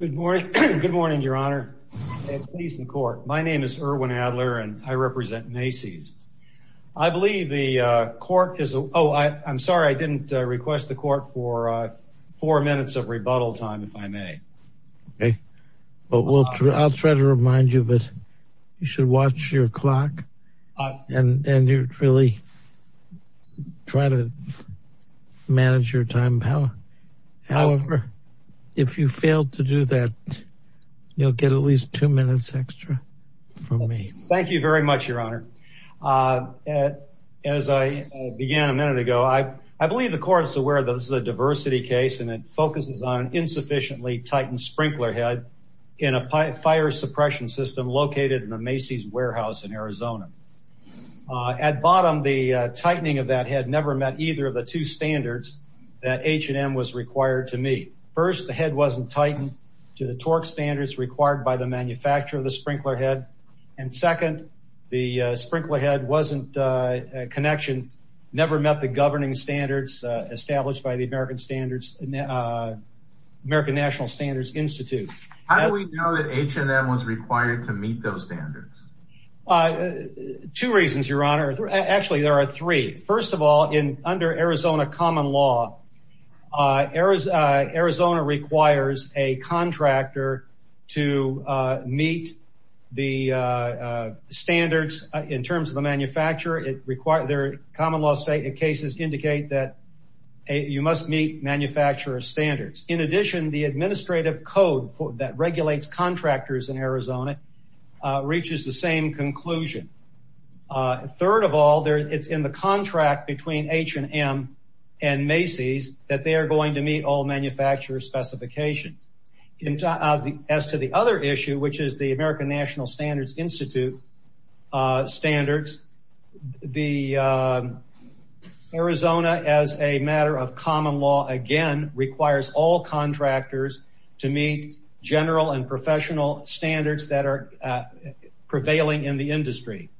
Good morning, Your Honor, and please, the Court. My name is Erwin Adler, and I represent Macy's. I believe the Court is—oh, I'm sorry, I didn't request the Court for four minutes of rebuttal time, if I may. Okay. Well, I'll try to remind you that you should watch your clock, and you really try to manage your time power. However, if you fail to do that, you'll get at least two minutes extra from me. Thank you very much, Your Honor. As I began a minute ago, I believe the Court is aware that this is a diversity case, and it focuses on an insufficiently tightened sprinkler head in a fire suppression system located in a Macy's warehouse in Arizona. At bottom, the tightening of that head never met either of the two standards that H&M was required to meet. First, the head wasn't tightened to the torque standards required by the manufacturer of the sprinkler head, and second, the sprinkler head wasn't—connection never met the governing standards established by the American Standards—American National Standards Institute. How do we know that H&M was required to meet those standards? Two reasons, Your Honor. Actually, there are three. First of all, under Arizona common law, Arizona requires a contractor to meet the standards in terms of a manufacturer. Common law cases indicate that you must meet manufacturer standards. In addition, the administrative code that regulates contractors in Arizona reaches the same conclusion. Third of all, it's in the contract between H&M and Macy's that they are going to meet all manufacturer specifications. As to the other issue, which is the American National Standards Institute standards, the—Arizona, as a matter of common law, again, requires all contractors to meet general and professional standards that are prevailing in the industry.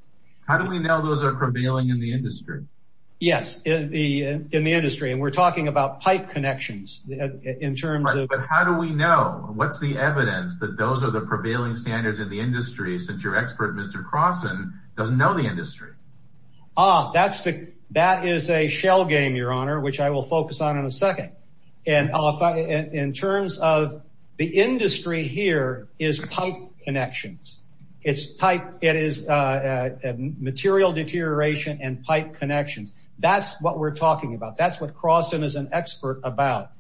How do we know those are prevailing in the industry? Yes, in the industry, and we're talking about pipe connections in terms of— Right. But how do we know? What's the evidence that those are the prevailing standards in the industry, since your expert, Mr. Crossen, doesn't know the industry? That is a shell game, Your Honor, which I will focus on in a second. In terms of the industry here is pipe connections. It's pipe—it is material deterioration and pipe connections. That's what we're talking about. That's what Crossen is an expert about.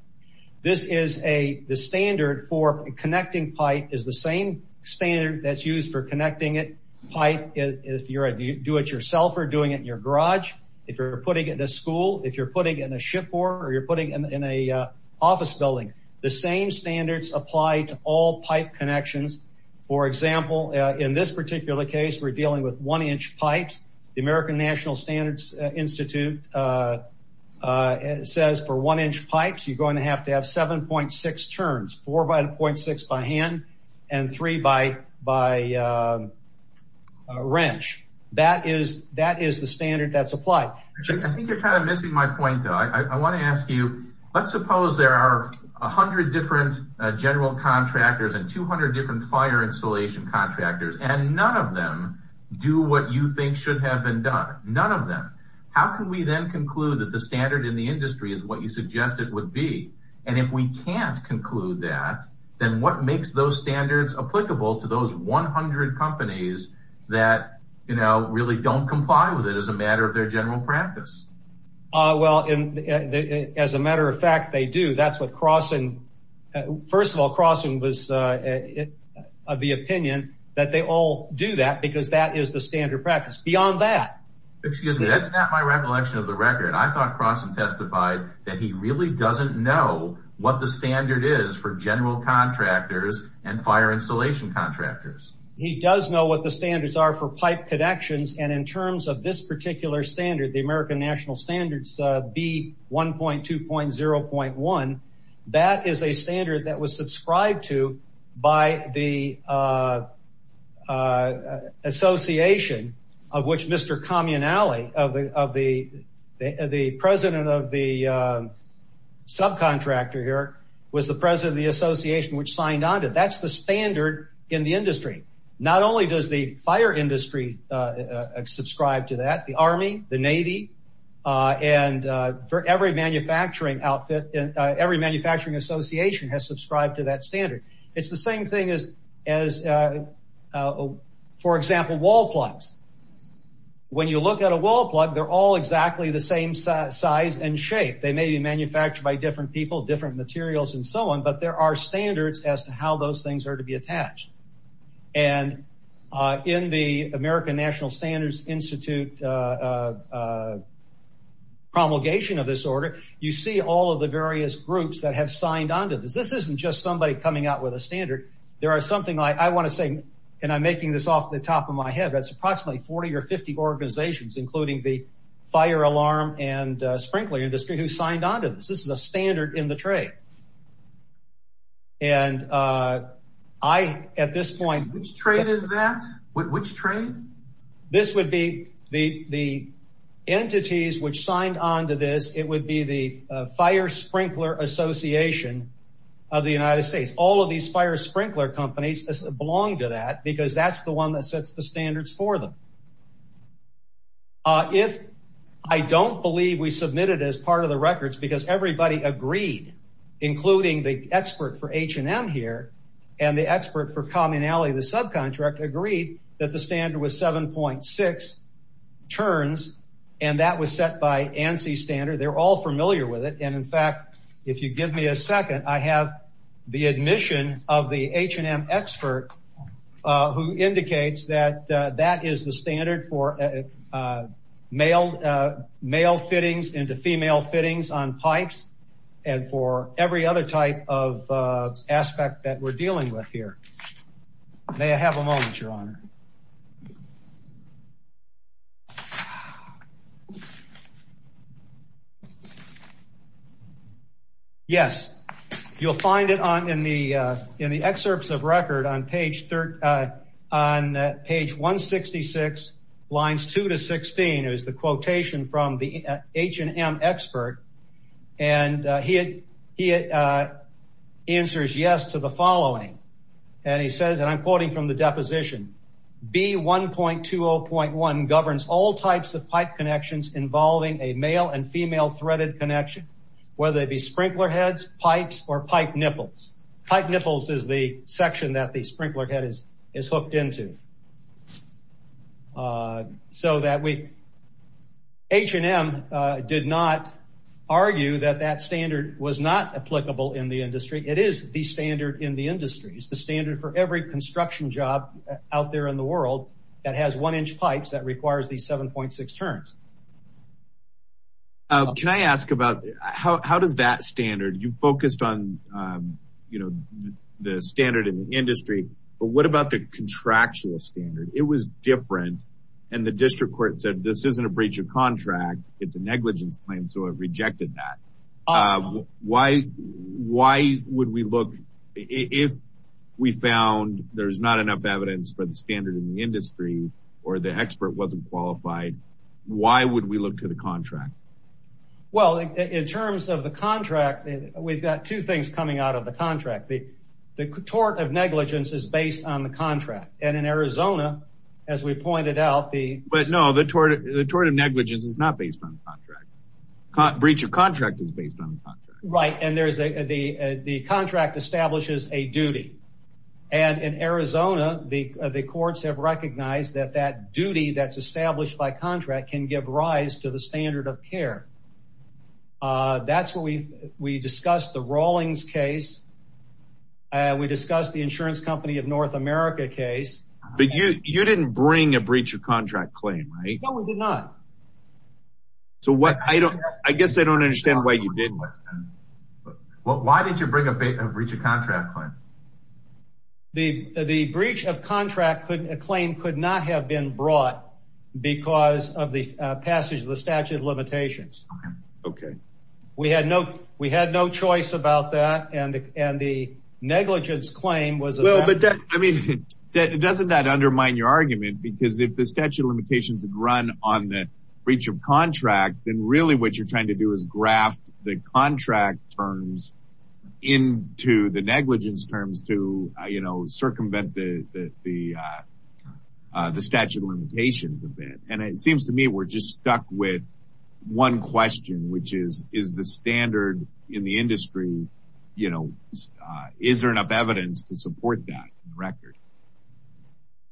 This is a—the standard for connecting pipe is the same standard that's used for connecting it. Pipe, if you do it yourself or doing it in your garage, if you're putting it in a school, if you're putting it in a shipboard or you're putting it in an office building, the same standards apply to all pipe connections. For example, in this particular case, we're dealing with one-inch pipes. The American National Standards Institute says for one-inch pipes, you're going to have to have 7.6 turns, four by .6 by hand and three by wrench. That is the standard that's applied. I think you're kind of missing my point, though. I want to ask you, let's suppose there are 100 different general contractors and 200 different fire installation contractors and none of them do what you think should have been done. None of them. How can we then conclude that the standard in the industry is what you suggested would be? If we can't conclude that, then what makes those standards applicable to those 100 companies that really don't comply with it as a matter of their general practice? As a matter of fact, they do. First of all, Crossen was of the opinion that they all do that because that is the standard practice. Beyond that... Excuse me, that's not my recollection of the record. I thought Crossen testified that he really doesn't know what the standard is for general contractors and fire installation contractors. He does know what the standards are for pipe connections. And in terms of this particular standard, the American National Standards B.1.2.0.1, that is a standard that was subscribed to by the association of which Mr. Communale, the president of the subcontractor here, was the president of the association which signed on to. That's the standard in the industry. Not only does the fire industry subscribe to that, the Army, the Navy, and every manufacturing association has subscribed to that standard. It's the same thing as, for example, wall plugs. When you look at a wall plug, they're all exactly the same size and shape. They may be manufactured by different people, different materials, and so on, but there are standards as to how those things are to be attached. And in the American National Standards Institute promulgation of this order, you see all of the various groups that have signed on to this. This isn't just somebody coming out with a standard. There are something like, I want to say, and I'm making this off the top of my head, that's approximately 40 or 50 organizations, including the fire alarm and sprinkler industry, who signed on to this. This is a standard in the trade. And I, at this point- Which trade is that? Which trade? This would be the entities which signed on to this. It would be the fire sprinkler association of the United States. All of these fire sprinkler companies belong to that because that's the one that sets the standards for them. If I don't believe we submitted as part of the records, because everybody agreed, including the expert for H&M here, and the expert for commonality of the subcontract, agreed that the standard was 7.6 turns, and that was set by ANSI standard. They're all familiar with it, and in fact, if you give me a second, I have the admission of the H&M expert who indicates that that is the standard for male fittings into female fittings on pipes, and for every other type of aspect that we're dealing with here. May I have a moment, your honor? Yes, you'll find it in the excerpts of record on page 166, lines 2 to 16, is the quotation from the H&M expert, and he answers yes to the following, and he says, and I'm quoting from the deposition, B1.20.1 governs all types of pipe connections involving a male and female threaded connection, whether it be sprinkler heads, pipes, or pipe nipples. Pipe nipples is the section that the sprinkler head is hooked into. So that we, H&M did not argue that that standard was not applicable in the industry. It is the standard in the industry. It's the standard for every construction job out there in the world that has one-inch pipes that requires these 7.6 turns. Can I ask about, how does that standard, you focused on the standard in the industry, but what about the contractual standard? It was different, and the district court said this isn't a breach of contract, it's a negligence claim, so it rejected that. Why would we look, if we found there's not enough evidence for the standard in the industry, or the expert wasn't qualified, why would we look to the contract? Well, in terms of the contract, we've got two things coming out of the contract. The tort of negligence is based on the contract, and in Arizona, as we pointed out, the... But no, the tort of negligence is not based on the contract. Breach of contract is based on the contract. Right, and the contract establishes a duty, and in Arizona, the courts have recognized that that duty that's established by contract can give rise to the standard of care. That's what we... We discussed the Rawlings case, we discussed the insurance company of North America case. But you didn't bring a breach of contract claim, right? No, we did not. So what... I guess I don't understand why you didn't. Why did you bring a breach of contract claim? The breach of contract claim could not have been brought because of the passage of the statute of limitations. Okay. We had no choice about that, and the negligence claim was... Well, but that, I mean, doesn't that undermine your argument? Because if the statute of limitations had run on the breach of contract, then really what you're trying to do is graft the contract terms into the negligence terms to circumvent the statute of limitations a bit. And it seems to me we're just stuck with one question, which is, is the standard in the industry, is there enough evidence to support that record?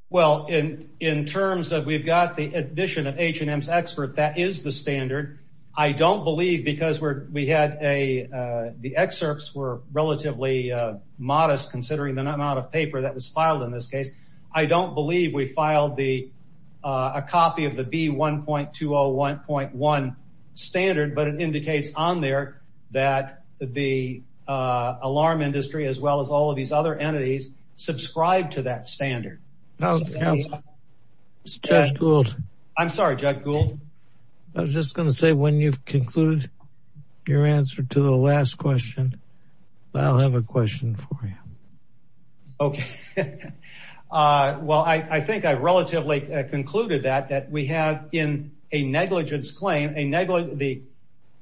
Well, in terms of we've got the admission of H&M's expert, that is the standard. I don't believe, because we had a... The excerpts were relatively modest considering the amount of paper that was filed in this case. I don't believe we filed a copy of the B1.201.1 standard, but it indicates on there that the I was just going to say, when you've concluded your answer to the last question, I'll have a question for you. Okay. Well, I think I relatively concluded that, that we have in a negligence claim, the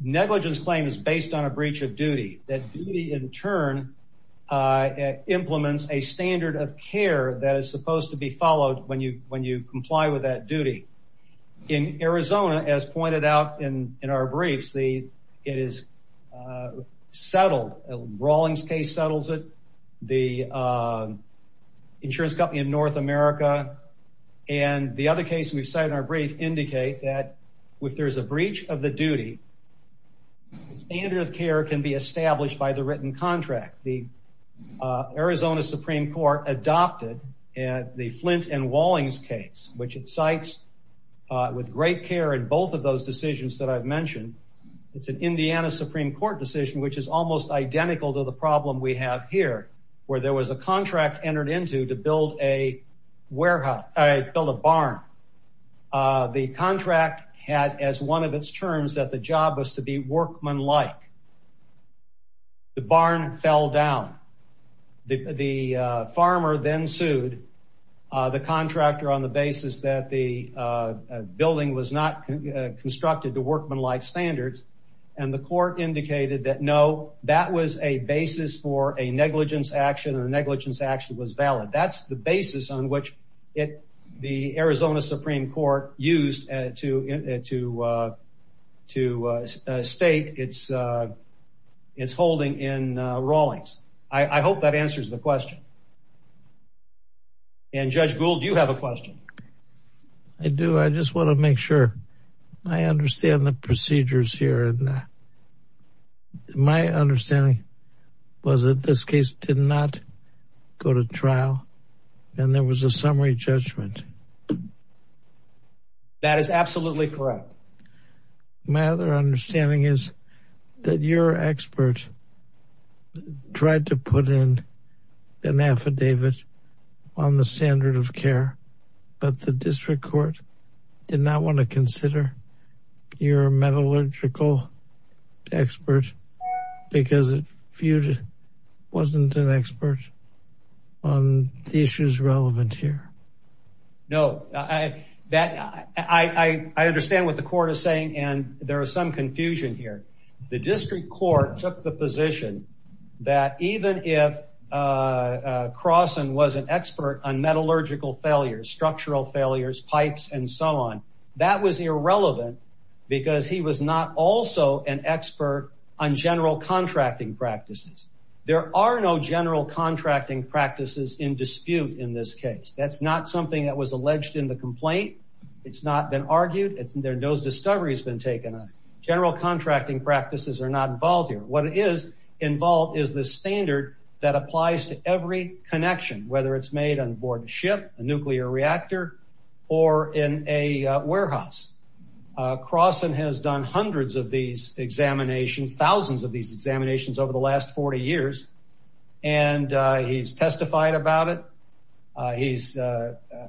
negligence claim is based on a breach of duty, that duty in turn implements a standard of care that is supposed to be followed when you comply with that duty. In Arizona, as pointed out in our briefs, it is settled. Rawlings case settles it. The insurance company in North America and the other case we've cited in our brief indicate that if there's a breach of the duty, the standard of care can be established by the written contract. The Arizona Supreme Court adopted the Flint and Rawlings case, which it cites with great care in both of those decisions that I've mentioned. It's an Indiana Supreme Court decision, which is almost identical to the problem we have here, where there was a contract entered into to build a warehouse, build a barn. The contract had as one of its terms that the job was to be workmanlike. The barn fell down. The farmer then sued the contractor on the basis that the building was not constructed to workmanlike standards. And the court indicated that no, that was a basis for a negligence action and the negligence action was valid. That's the basis on which the Arizona Supreme Court used to state its holding in Rawlings. I hope that answers the question. And Judge Gould, you have a question. I do. I just want to make sure I understand the procedures here. My understanding was that this case did not go to trial and there was a summary judgment. That is absolutely correct. My other understanding is that your expert tried to put in an affidavit on the standard of care, but the district court did not want to consider your metallurgical expert because it viewed it wasn't an expert on the issues relevant here. No, I understand what the court is saying. And there is some confusion here. The district court took the position that even if Crossan was an expert on metallurgical failures, structural failures, pipes, and so on, that was irrelevant because he was not also an expert on general contracting practices. There are no general contracting practices in dispute in this case. That's not something that was alleged in the complaint. It's not been argued. No discovery has been taken on it. General contracting practices are not involved here. What is involved is the standard that applies to every connection, whether it's made on board a ship, a nuclear reactor, or in a warehouse. Crossan has done hundreds of these examinations, thousands of these examinations over the last 40 years, and he's testified about it. He's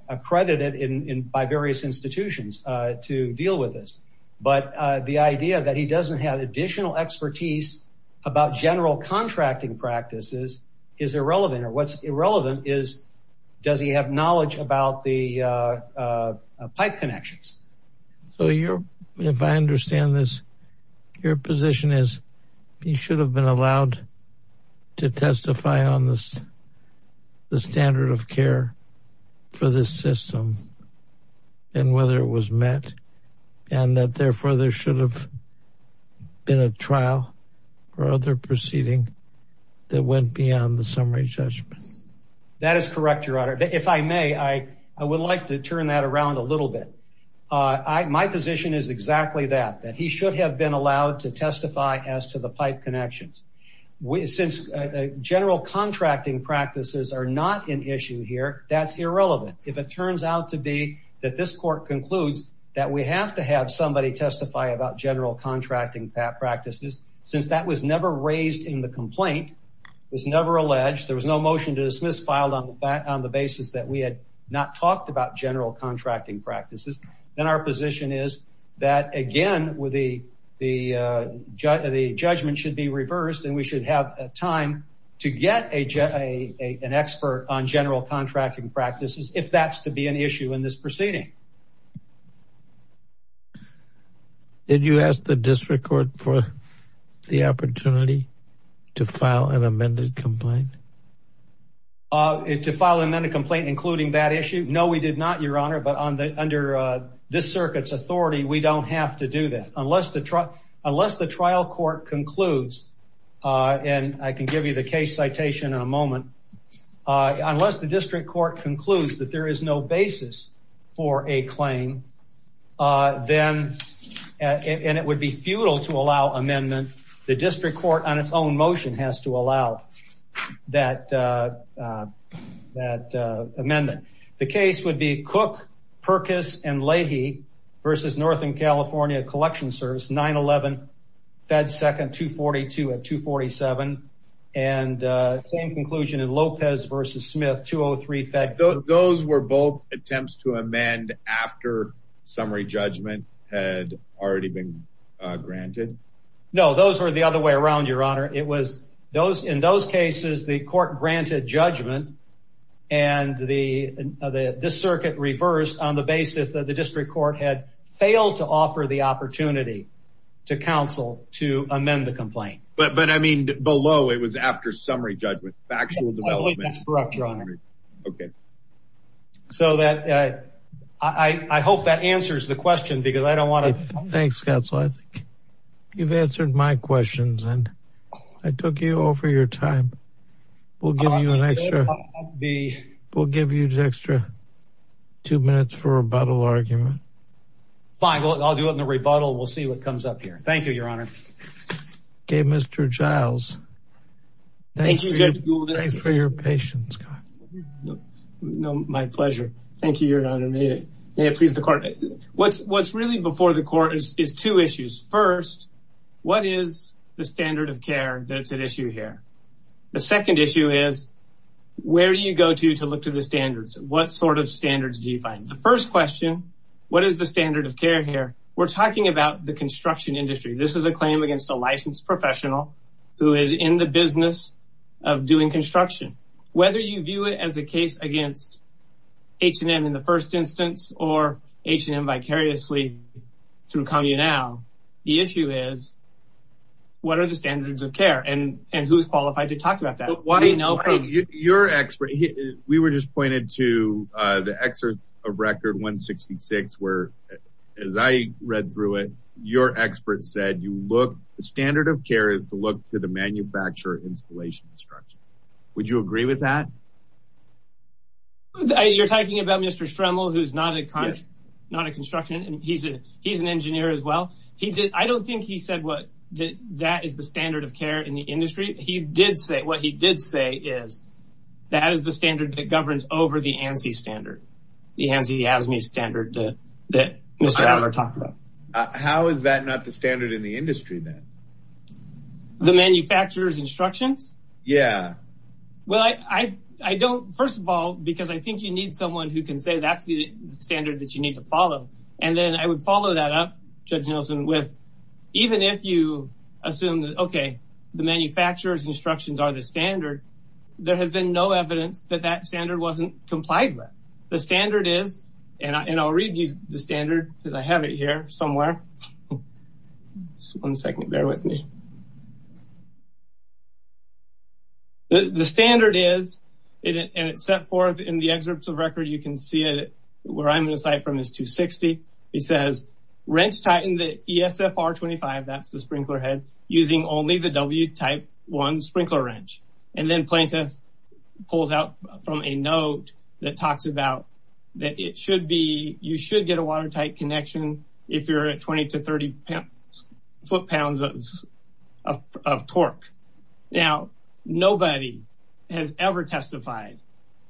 accredited by various institutions to deal with this. But the idea that he doesn't have additional expertise about general contracting practices is irrelevant. Or what's irrelevant is, does he have knowledge about the pipe connections? So if I understand this, your position is he should have been allowed to testify on the standard of care for this system and whether it was met, and that therefore there should have been a trial or other proceeding that went beyond the summary judgment. That is correct, your honor. If I may, I would like to turn that around a little bit. My position is exactly that, that he should have been allowed to testify as to the pipe connections. Since general contracting practices are not an issue here, that's irrelevant. If it turns out to be that this court concludes that we have to have somebody testify about general contracting practices, since that was never raised in the complaint, it was never alleged, there was no motion to dismiss filed on the basis that we had not talked about general contracting practices, then our position is that, again, the judgment should be reversed and we should have time to get an expert on general contracting practices if that's to be an issue in this proceeding. Did you ask the district court for the opportunity to file an amended complaint? To file an amended complaint, including that issue? No, we did not, your honor, but under this circuit's authority, we don't have to do that unless the trial court concludes, and I can give you the case citation in a moment, unless the district court concludes that there is no basis for a claim, and it would be futile to allow amendment, the district court on its own motion has to allow that amendment. The case would be Cook, Perkis, and Leahy versus Northern California Collection Service, 9-11, Fed 2nd, 242 at 247, and same conclusion in Lopez versus Smith, 203 Fed. Those were both attempts to amend after summary judgment had already been granted? No, those were the other way around, your honor. It was in those cases the court granted judgment, and this circuit reversed on the basis that the district court had failed to offer the opportunity to counsel to amend the complaint. But I mean below, it was after summary judgment, factual development. That's correct, your honor. So I hope that answers the question because I don't want to... Thanks, Scott. You've answered my questions, and I took you over your time. We'll give you an extra two minutes for a rebuttal argument. Fine, I'll do it in a rebuttal. We'll see what comes up here. Thank you, your honor. Okay, Mr. Giles, thank you for your patience, Scott. My pleasure. Thank you, your honor. May it please the court. What's really before the court is two issues. First, what is the standard of care that's at issue here? The second issue is where do you go to to look to the standards? What sort of standards do you find? The first question, what is the standard of care here? We're talking about the construction industry. This is a claim against a licensed professional who is in the business of doing construction. Whether you view it as a case against H&M in the first instance or H&M vicariously through Communal, the issue is what are the standards of care and who's qualified to talk about that? Your expert, we were just pointed to the excerpt of record 166, where as I read through it, your expert said, the standard of care is to look to the manufacturer installation structure. Would you agree with that? You're talking about Mr. Stremel, who's not a construction, and he's an engineer as well. I don't think he said what that is the standard of care in the industry. He did say what he did say is that is the standard that governs over the ANSI standard. The ANSI ASME standard that Mr. Allard talked about. How is that not the standard in the industry then? The manufacturer's instructions? Yeah. Well, I don't, first of all, because I think you need someone who can say that's the standard that you need to follow. And then I would follow that up, Judge Nielsen, with even if you assume that, okay, the manufacturer's instructions are the standard, there has been no evidence that that standard wasn't complied with. The standard is, and I'll read you the standard because I have it here somewhere. One second, bear with me. The standard is, and it's set forth in the excerpts of record, you can see it where I'm going to cite from is 260. It says wrench tighten the ESFR25, that's the sprinkler head, using only the W type one sprinkler wrench. And then plaintiff pulls out from a note that talks about that it should be, you should get a watertight connection if you're at 20 to 30 foot pounds of torque. Now, nobody has ever testified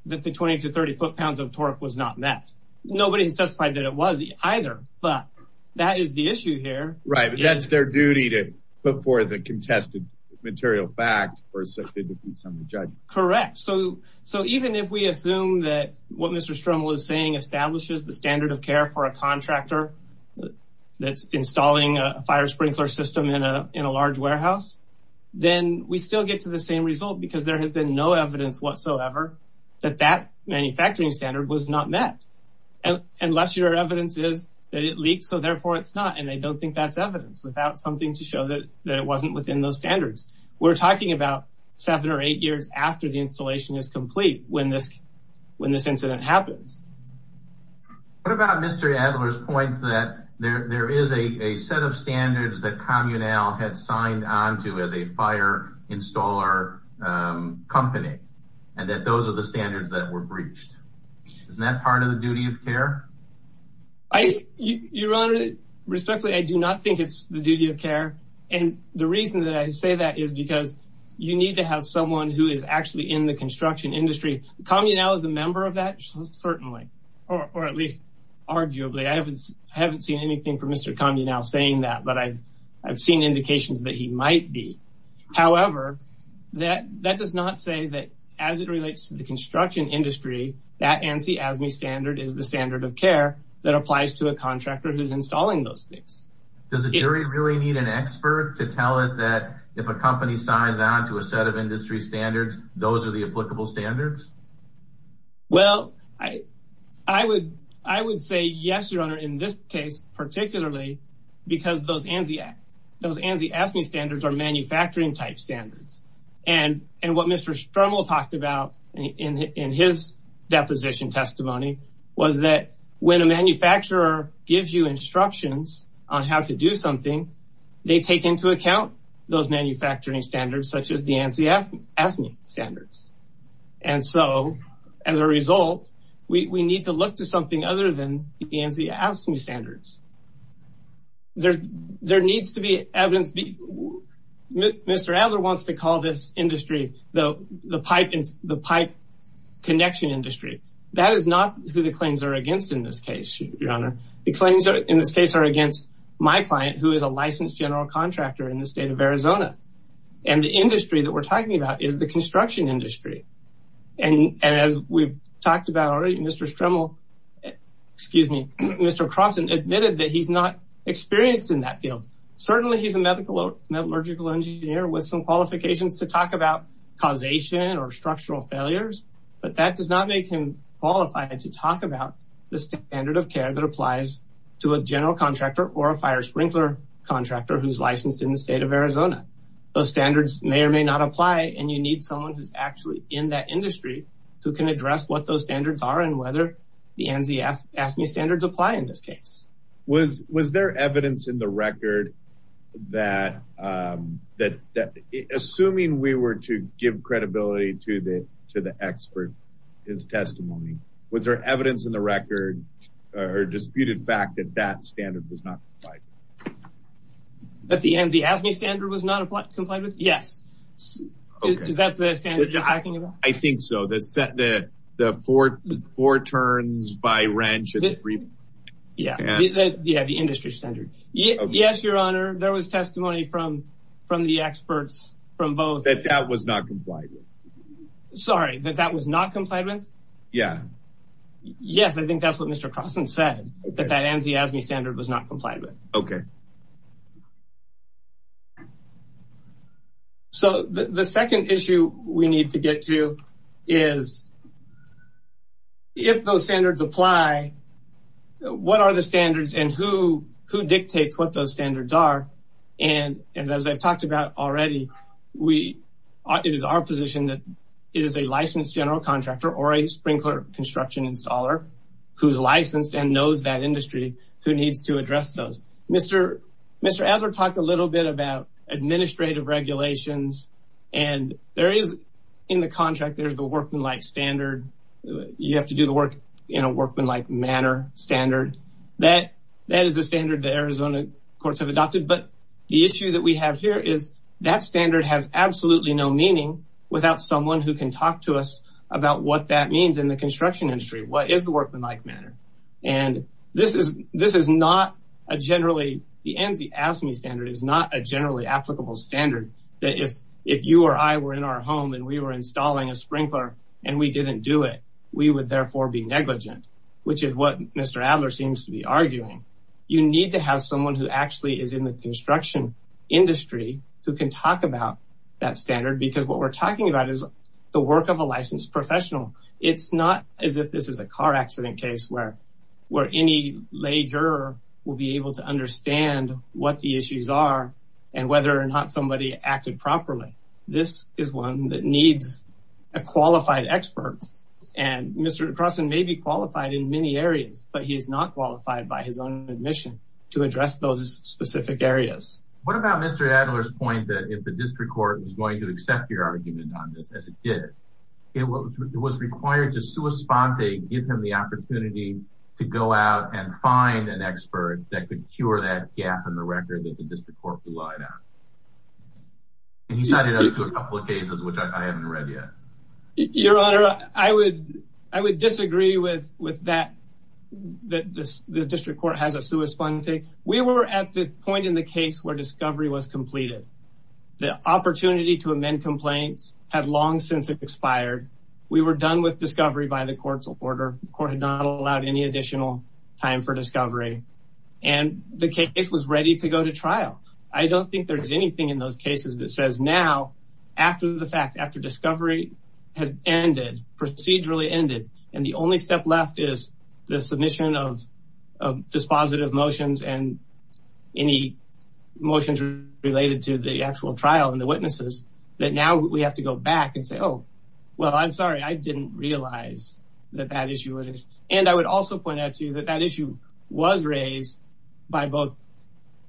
that the 20 to 30 foot pounds of torque was not met. Nobody has testified that it was either. But that is the issue here. Right. But that's their duty to, before the contested material fact or certificate from the judge. Correct. So even if we assume that what Mr. Stroml is saying establishes the standard of care for a contractor that's installing a fire sprinkler system in a large warehouse, then we still get to the same result because there has been no evidence whatsoever that that manufacturing standard was not met. Unless your evidence is that it leaked. So therefore it's not. And I don't think that's evidence without something to show that it wasn't within those standards. We're talking about seven or eight years after the installation is complete when this incident happens. What about Mr. Adler's point that there is a set of standards that Communal had signed onto as a fire installer company, and that those are the standards that were breached. Isn't that part of the duty of care? Your Honor, respectfully, I do not think it's the duty of care. And the reason that I say that is because you need to have someone who is actually in the construction industry. Communal is a member of that, certainly. Or at least arguably, I haven't seen anything for Mr. Communal saying that, but I've seen indications that he might be. However, that does not say that as it relates to the construction industry, that ANSI-ASME standard is the standard of care that applies to a contractor who's installing those things. Does the jury really need an expert to tell it that if a company signs on to a set of industry standards, those are the applicable standards? Well, I would say yes, Your Honor, in this case, particularly because those ANSI-ASME standards are manufacturing type standards. And what Mr. Sturml talked about in his deposition testimony was that when a manufacturer gives you instructions on how to do something, they take into account those manufacturing standards such as the ANSI-ASME standards. And so as a result, we need to look to something other than the ANSI-ASME standards. There needs to be evidence. Mr. Adler wants to call this industry the pipe connection industry. That is not who the claims are against in this case, Your Honor. The claims in this case are against my client who is a licensed general contractor in the state of Arizona. And the industry that we're talking about is the construction industry. And as we've talked about already, Mr. Sturml, excuse me, Mr. Crossan admitted that he's not experienced in that field. Certainly, he's a medical or metallurgical engineer with some qualifications to talk about causation or structural failures, but that does not make him qualified to talk about the standard of care that applies to a general contractor or a fire sprinkler contractor who's licensed in the state of Arizona. Those standards may or may not apply. And you need someone who's actually in that industry who can address what those standards are and whether the ANSI-ASME standards apply in this case. Was there evidence in the record that, assuming we were to give credibility to the expert in his testimony, was there evidence in the record or disputed fact that that standard was not applied? That the ANSI-ASME standard was not complied with? Yes. Is that the standard you're talking about? I think so. The set, the four turns by wrench of the three. Yeah, the industry standard. Yes, Your Honor, there was testimony from the experts, from both. That that was not complied with. Sorry, that that was not complied with? Yeah. Yes, I think that's what Mr. Crossan said, that that ANSI-ASME standard was not complied with. Okay. So the second issue we need to get to is, if those standards apply, what are the standards and who dictates what those standards are? And as I've talked about already, it is our position that it is a licensed general contractor or a sprinkler construction installer who's licensed and knows that industry who needs to address those. Mr. Adler talked a little bit about administrative regulations and there is, in the contract, there's the workmanlike standard. You have to do the work in a workmanlike manner standard. That is a standard that Arizona courts have adopted. But the issue that we have here is that standard has absolutely no meaning without someone who can talk to us about what that means in the construction industry. What is the workmanlike manner? And this is not a generally, the ANSI-ASME standard is not a generally applicable standard that if you or I were in our home and we were installing a sprinkler and we didn't do it, we would therefore be negligent, which is what Mr. Adler seems to be arguing. You need to have someone who actually is in the construction industry who can talk about that standard because what we're talking about is the work of a licensed professional. It's not as if this is a car accident case where any lay juror will be able to understand what the issues are and whether or not somebody acted properly. This is one that needs a qualified expert. And Mr. Croson may be qualified in many areas, but he is not qualified by his own admission to address those specific areas. What about Mr. Adler's point that if the district court was going to accept your argument on as it did, it was required to sui sponte, give him the opportunity to go out and find an expert that could cure that gap in the record that the district court relied on. And he cited us to a couple of cases, which I haven't read yet. Your Honor, I would disagree with that, that the district court has a sui sponte. We were at the point in the case where discovery was completed. The opportunity to amend complaints had long since expired. We were done with discovery by the court's order. The court had not allowed any additional time for discovery. And the case was ready to go to trial. I don't think there's anything in those cases that says now, after the fact, after discovery has ended, procedurally ended, and the only step left is the submission of dispositive motions and any motions related to the actual trial and the witnesses, that now we have to go back and say, oh, well, I'm sorry. I didn't realize that that issue was. And I would also point out to you that that issue was raised by both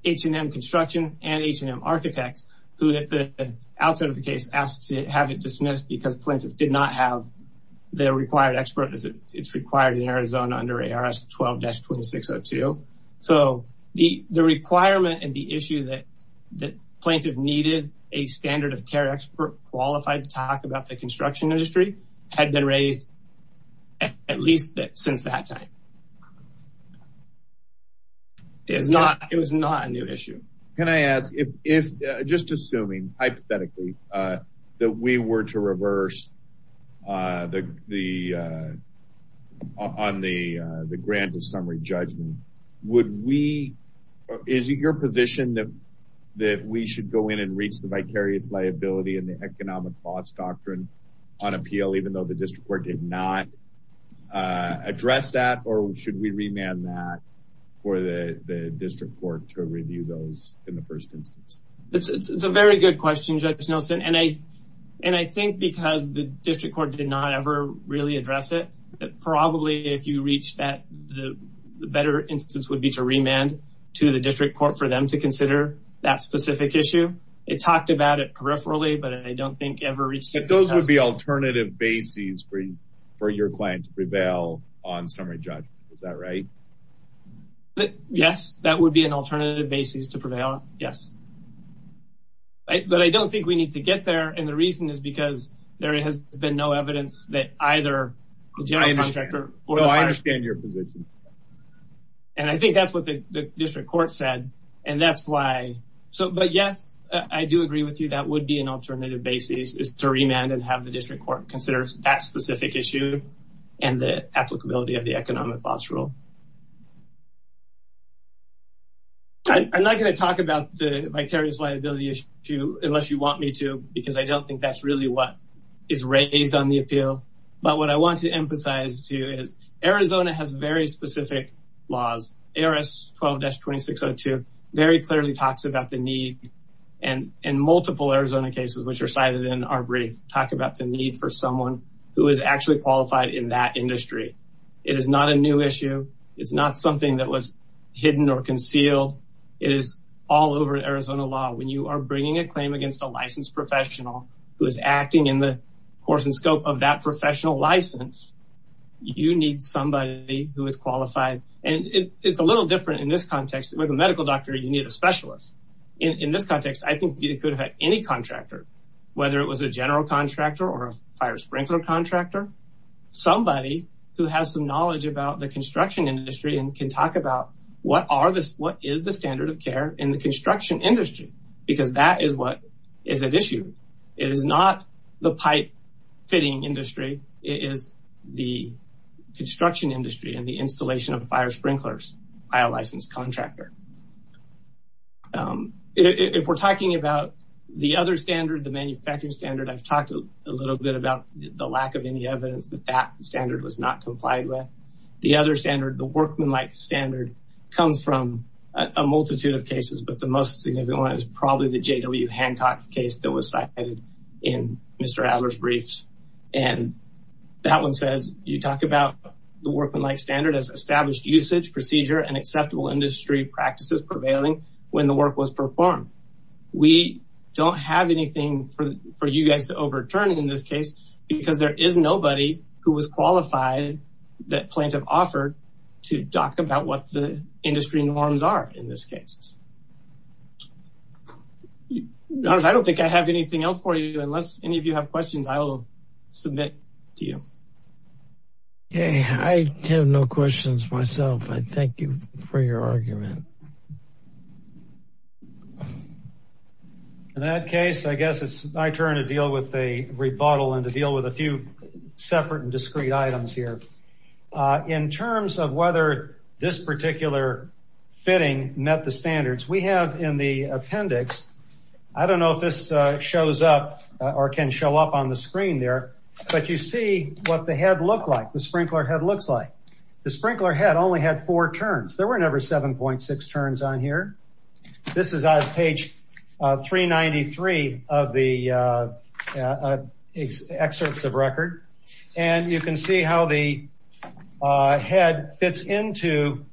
H&M Construction and H&M Architects, who at the outset of the case asked to have it dismissed because plaintiff did not have the required expert. It's required in Arizona under ARS 12-2602. So the requirement and the issue that plaintiff needed a standard of care expert qualified to talk about the construction industry had been raised at least since that time. It was not a new issue. Can I ask, just assuming, hypothetically, that we were to reverse on the grant of summary judgment, is it your position that we should go in and reach the vicarious liability and the economic loss doctrine on appeal, even though the district court did not address that, or should we remand that for the district court to review those in the first instance? It's a very good question, Judge Nelson. And I think because the district court did not ever really address it, probably if you reach that, the better instance would be to remand to the district court for them to consider that specific issue. It talked about it peripherally, but I don't think ever reached it. Those would be alternative bases for your client to prevail on summary judgment. Is that right? Yes, that would be an alternative basis to prevail. Yes. But I don't think we need to get there. And the reason is because there has been no evidence that either the general contractor or the vicarious liability. I understand your position. And I think that's what the district court said. And that's why. But yes, I do agree with you. That would be an alternative basis is to remand and have the district court considers that specific issue and the applicability of the economic loss rule. I'm not going to talk about the vicarious liability issue unless you want me to, because I don't think that's really what is raised on the appeal. But what I want to emphasize to you is Arizona has very specific laws. ARS 12-2602 very clearly talks about the need and in multiple Arizona cases, which are cited in our brief, talk about the need for someone who is actually qualified in that industry. It is not a new issue. It's not something that was hidden or concealed. It is all over Arizona law. When you are bringing a claim against a licensed professional who is acting in the course and scope of that professional license, you need somebody who is qualified. And it's a little different in this context. With a medical doctor, you need a specialist. In this context, I think you could have had any contractor, whether it was a general contractor or a fire sprinkler contractor, somebody who has some knowledge about the construction industry and can talk about what is the standard of care in the construction industry, because that is what is at issue. It is not the pipe fitting industry. It is the construction industry and the installation of fire sprinklers by a licensed contractor. If we're talking about the other standard, the manufacturing standard, I've talked a little bit about the lack of any evidence that that standard was not complied with. The other standard, the workmanlike standard, comes from a multitude of cases, but the most significant one is probably the J.W. Hancock case that was cited in Mr. Adler's briefs. That one says, you talk about the workmanlike standard as established usage, procedure, and acceptable industry practices prevailing when the work was performed. We don't have anything for you guys to overturn in this case because there is nobody who was qualified that Plantev offered to talk about what the industry norms are in this case. I don't think I have anything else for you. Unless any of you have questions, I will submit to you. I have no questions myself. I thank you for your argument. In that case, I guess it's my turn to deal with a rebuttal and to deal with a few separate and discrete items here. In terms of whether this particular fitting met the standards, we have in the appendix, I don't know if this shows up or can show up on the screen there, but you see what the head looked like, the sprinkler head looks like. The sprinkler head only had four turns. There were never 7.6 turns on here. This is on page 393 of the excerpts of record, and you can see how the head fits into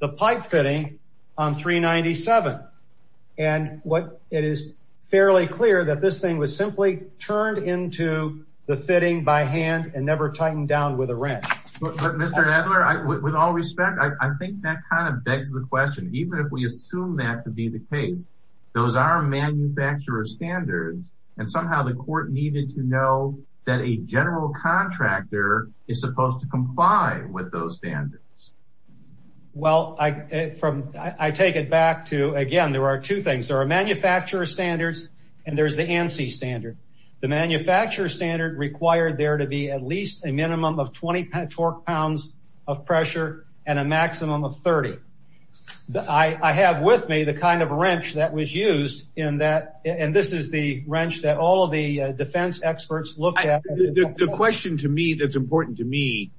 the pipe fitting on 397. And it is fairly clear that this thing was simply turned into the fitting by hand and never tightened down with a wrench. Mr. Edler, with all respect, I think that kind of begs the question, even if we assume that to be the case, those are manufacturer standards, and somehow the court needed to know that a general contractor is supposed to comply with those standards. Well, I take it back to, again, there are two things. There are manufacturer standards, and there's the ANSI standard. The manufacturer standard required there to be at least a minimum of 20 torque pounds of pressure and a maximum of 30. I have with me the kind of wrench that was used in that, and this is the wrench that all of the defense experts looked at. The question to me that's important to me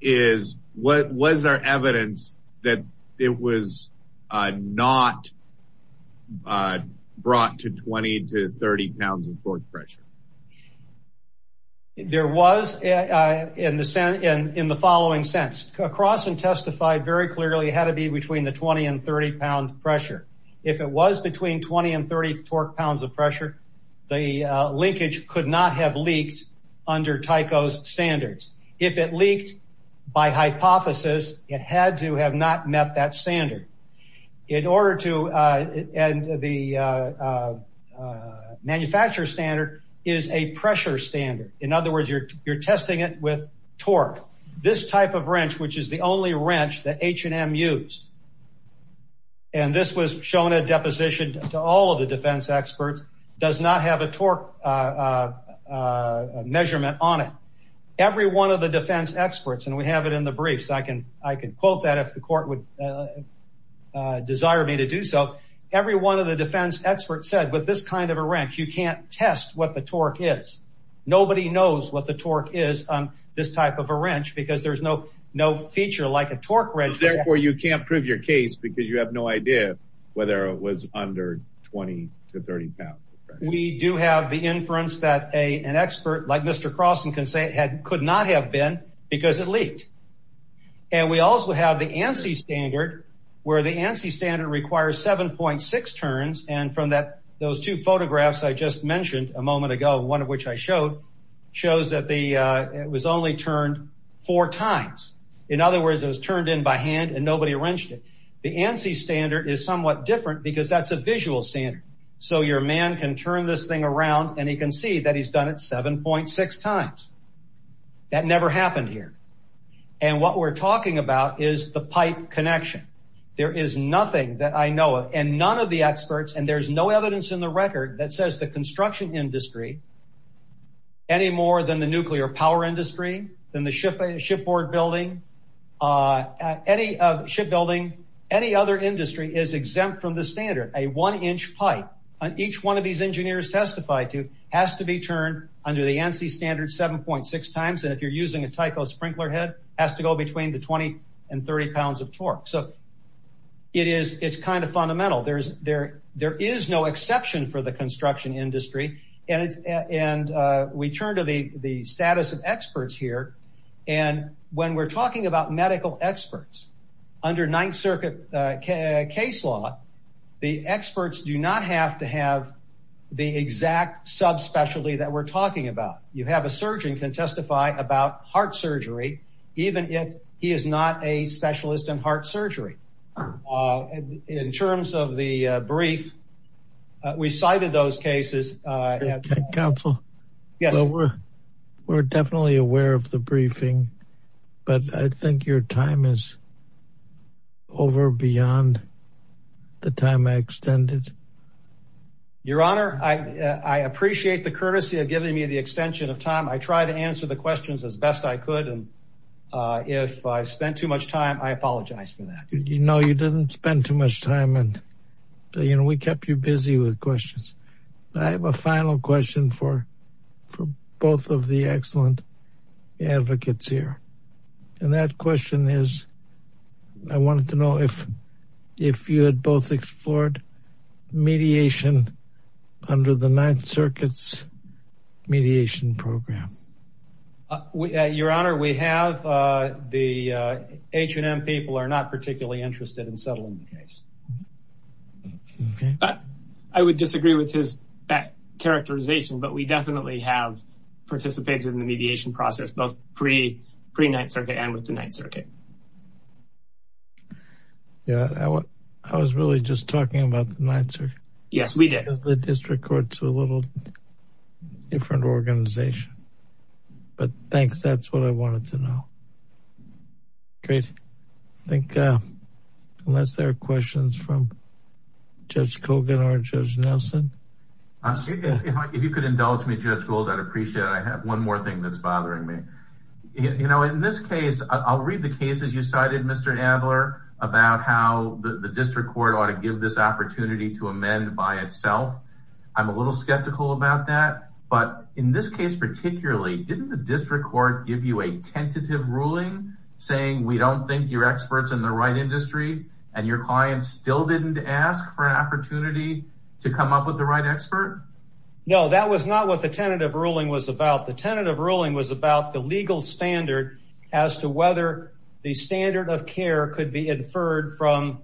is, was there evidence that it was not brought to 20 to 30 pounds of torque pressure? There was in the following sense. Across and testified very clearly it had to be between the 20 and 30 pound pressure. If it was between 20 and 30 torque pounds of pressure, the linkage could not have leaked under Tyco's standards. If it leaked by hypothesis, it had to have not met that standard. In order to, and the manufacturer standard is a pressure standard. In other words, you're testing it with torque. This type of wrench, which is the only wrench that H&M used, and this was shown a deposition to all of the defense experts, does not have a torque measurement on it. Every one of the defense experts, and we have it in the brief, so I can quote that if the court would desire me to do so. Every one of the defense experts said, with this kind of a wrench, you can't test what the torque is. Nobody knows what the torque is on this type of a wrench because there's no feature like a torque wrench. Therefore, you can't prove your case because you have no idea whether it was under 20 to 30 pounds of pressure. We do have the inference that an expert like Mr. Croson can say it could not have been because it leaked. And we also have the ANSI standard where the ANSI standard requires 7.6 turns. And from those two photographs I just mentioned a moment ago, one of which I showed, shows that it was only turned four times. In other words, it was turned in by hand and nobody wrenched it. The ANSI standard is somewhat different because that's a visual standard. So your man can turn this thing around and he can see that he's done it 7.6 times. That never happened here. And what we're talking about is the pipe connection. There is nothing that I know of and none of the experts, and there's no evidence in the record that says the construction industry, any more than the nuclear power industry, than the shipboard building, shipbuilding, any other industry is exempt from the standard. A one-inch pipe on each one of these engineers testified to has to be turned under the ANSI standard 7.6 times. And if you're using a Tyco sprinkler head, it has to go between the 20 and 30 pounds of torque. So it is, it's kind of fundamental. There is no exception for the construction industry. And we turn to the status of experts here. And when we're talking about medical experts, under Ninth Circuit case law, the experts do not have to have the exact subspecialty that we're talking about. You have a surgeon can testify about heart surgery, even if he is not a specialist in heart surgery. In terms of the brief, we cited those cases. Counsel, we're definitely aware of the briefing, but I think your time is over beyond the time I extended. Your Honor, I appreciate the courtesy of giving me the extension of time. I try to answer the questions as best I could. And if I spent too much time, I apologize for that. You know, you didn't spend too much time. And, you know, we kept you busy with questions. I have a final question for both of the excellent advocates here. And that question is, I wanted to know if you had both explored mediation under the Ninth Circuit's mediation program. Your Honor, we have. The H&M people are not particularly interested in settling the case. I would disagree with that characterization, but we definitely have participated in the mediation process, both pre-Ninth Circuit and with the Ninth Circuit. Yeah, I was really just talking about the Ninth Circuit. Yes, we did. The district courts are a little different organization. But thanks. That's what I wanted to know. Great. I think unless there are questions from Judge Kogan or Judge Nelson. If you could indulge me, Judge Gould, I'd appreciate it. I have one more thing that's bothering me. You know, in this case, I'll read the cases you cited, Mr. Adler, about how the district court ought to give this opportunity to amend by itself. I'm a little skeptical about that. But in this case, particularly, didn't the district court give you a tentative ruling saying we don't think your experts in the right industry and your clients still didn't ask for an opportunity to come up with the right expert? No, that was not what the tentative ruling was about. The tentative ruling was about the legal standard as to whether the standard of care could be inferred from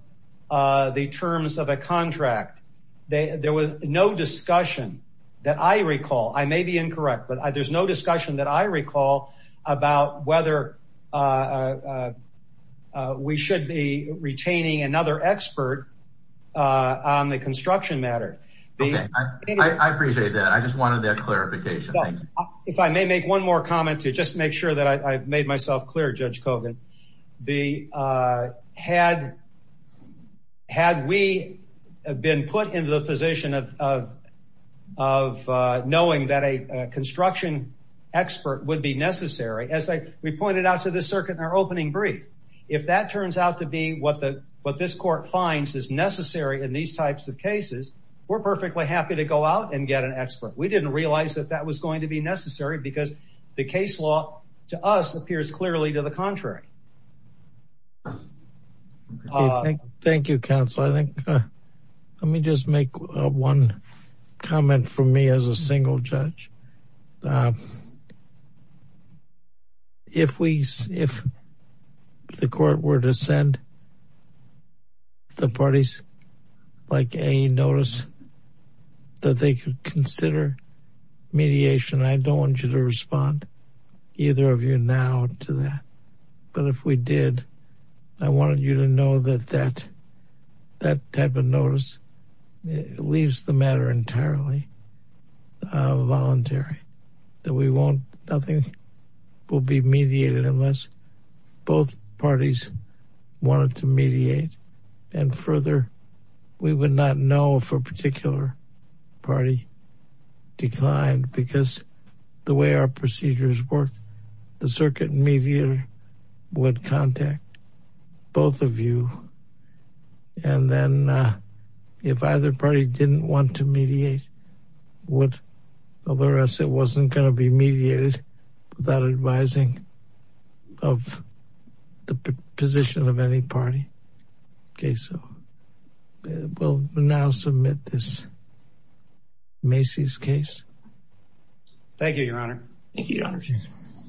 the terms of a contract. There was no discussion that I recall, I may be incorrect, but there's no discussion that I recall about whether we should be retaining another expert on the construction matter. I appreciate that. I just wanted that clarification. If I may make one more comment to just make sure that I've made myself clear, Judge Kogan. The, had we been put in the position of knowing that a construction expert would be necessary, as we pointed out to the circuit in our opening brief, if that turns out to be what this court finds is necessary in these types of cases, we're perfectly happy to go out and get an expert. We didn't realize that that was going to be necessary because the case law to us appears clearly to the contrary. Thank you, counsel. I think, let me just make one comment for me as a single judge. If we, if the court were to send the parties like a notice that they could consider mediation, I don't want you to respond either of you now to that. But if we did, I wanted you to know that that type of notice leaves the matter entirely voluntary, that we won't, nothing will be mediated unless both parties wanted to mediate and further, we would not know if a particular party declined because the way our procedures work, the circuit mediator would contact both of you. And then if either party didn't want to mediate, would alert us it wasn't going to be mediated without advising of the position of any party. Okay. So we'll now submit this Macy's case. Thank you, your honor. Thank you, your honor.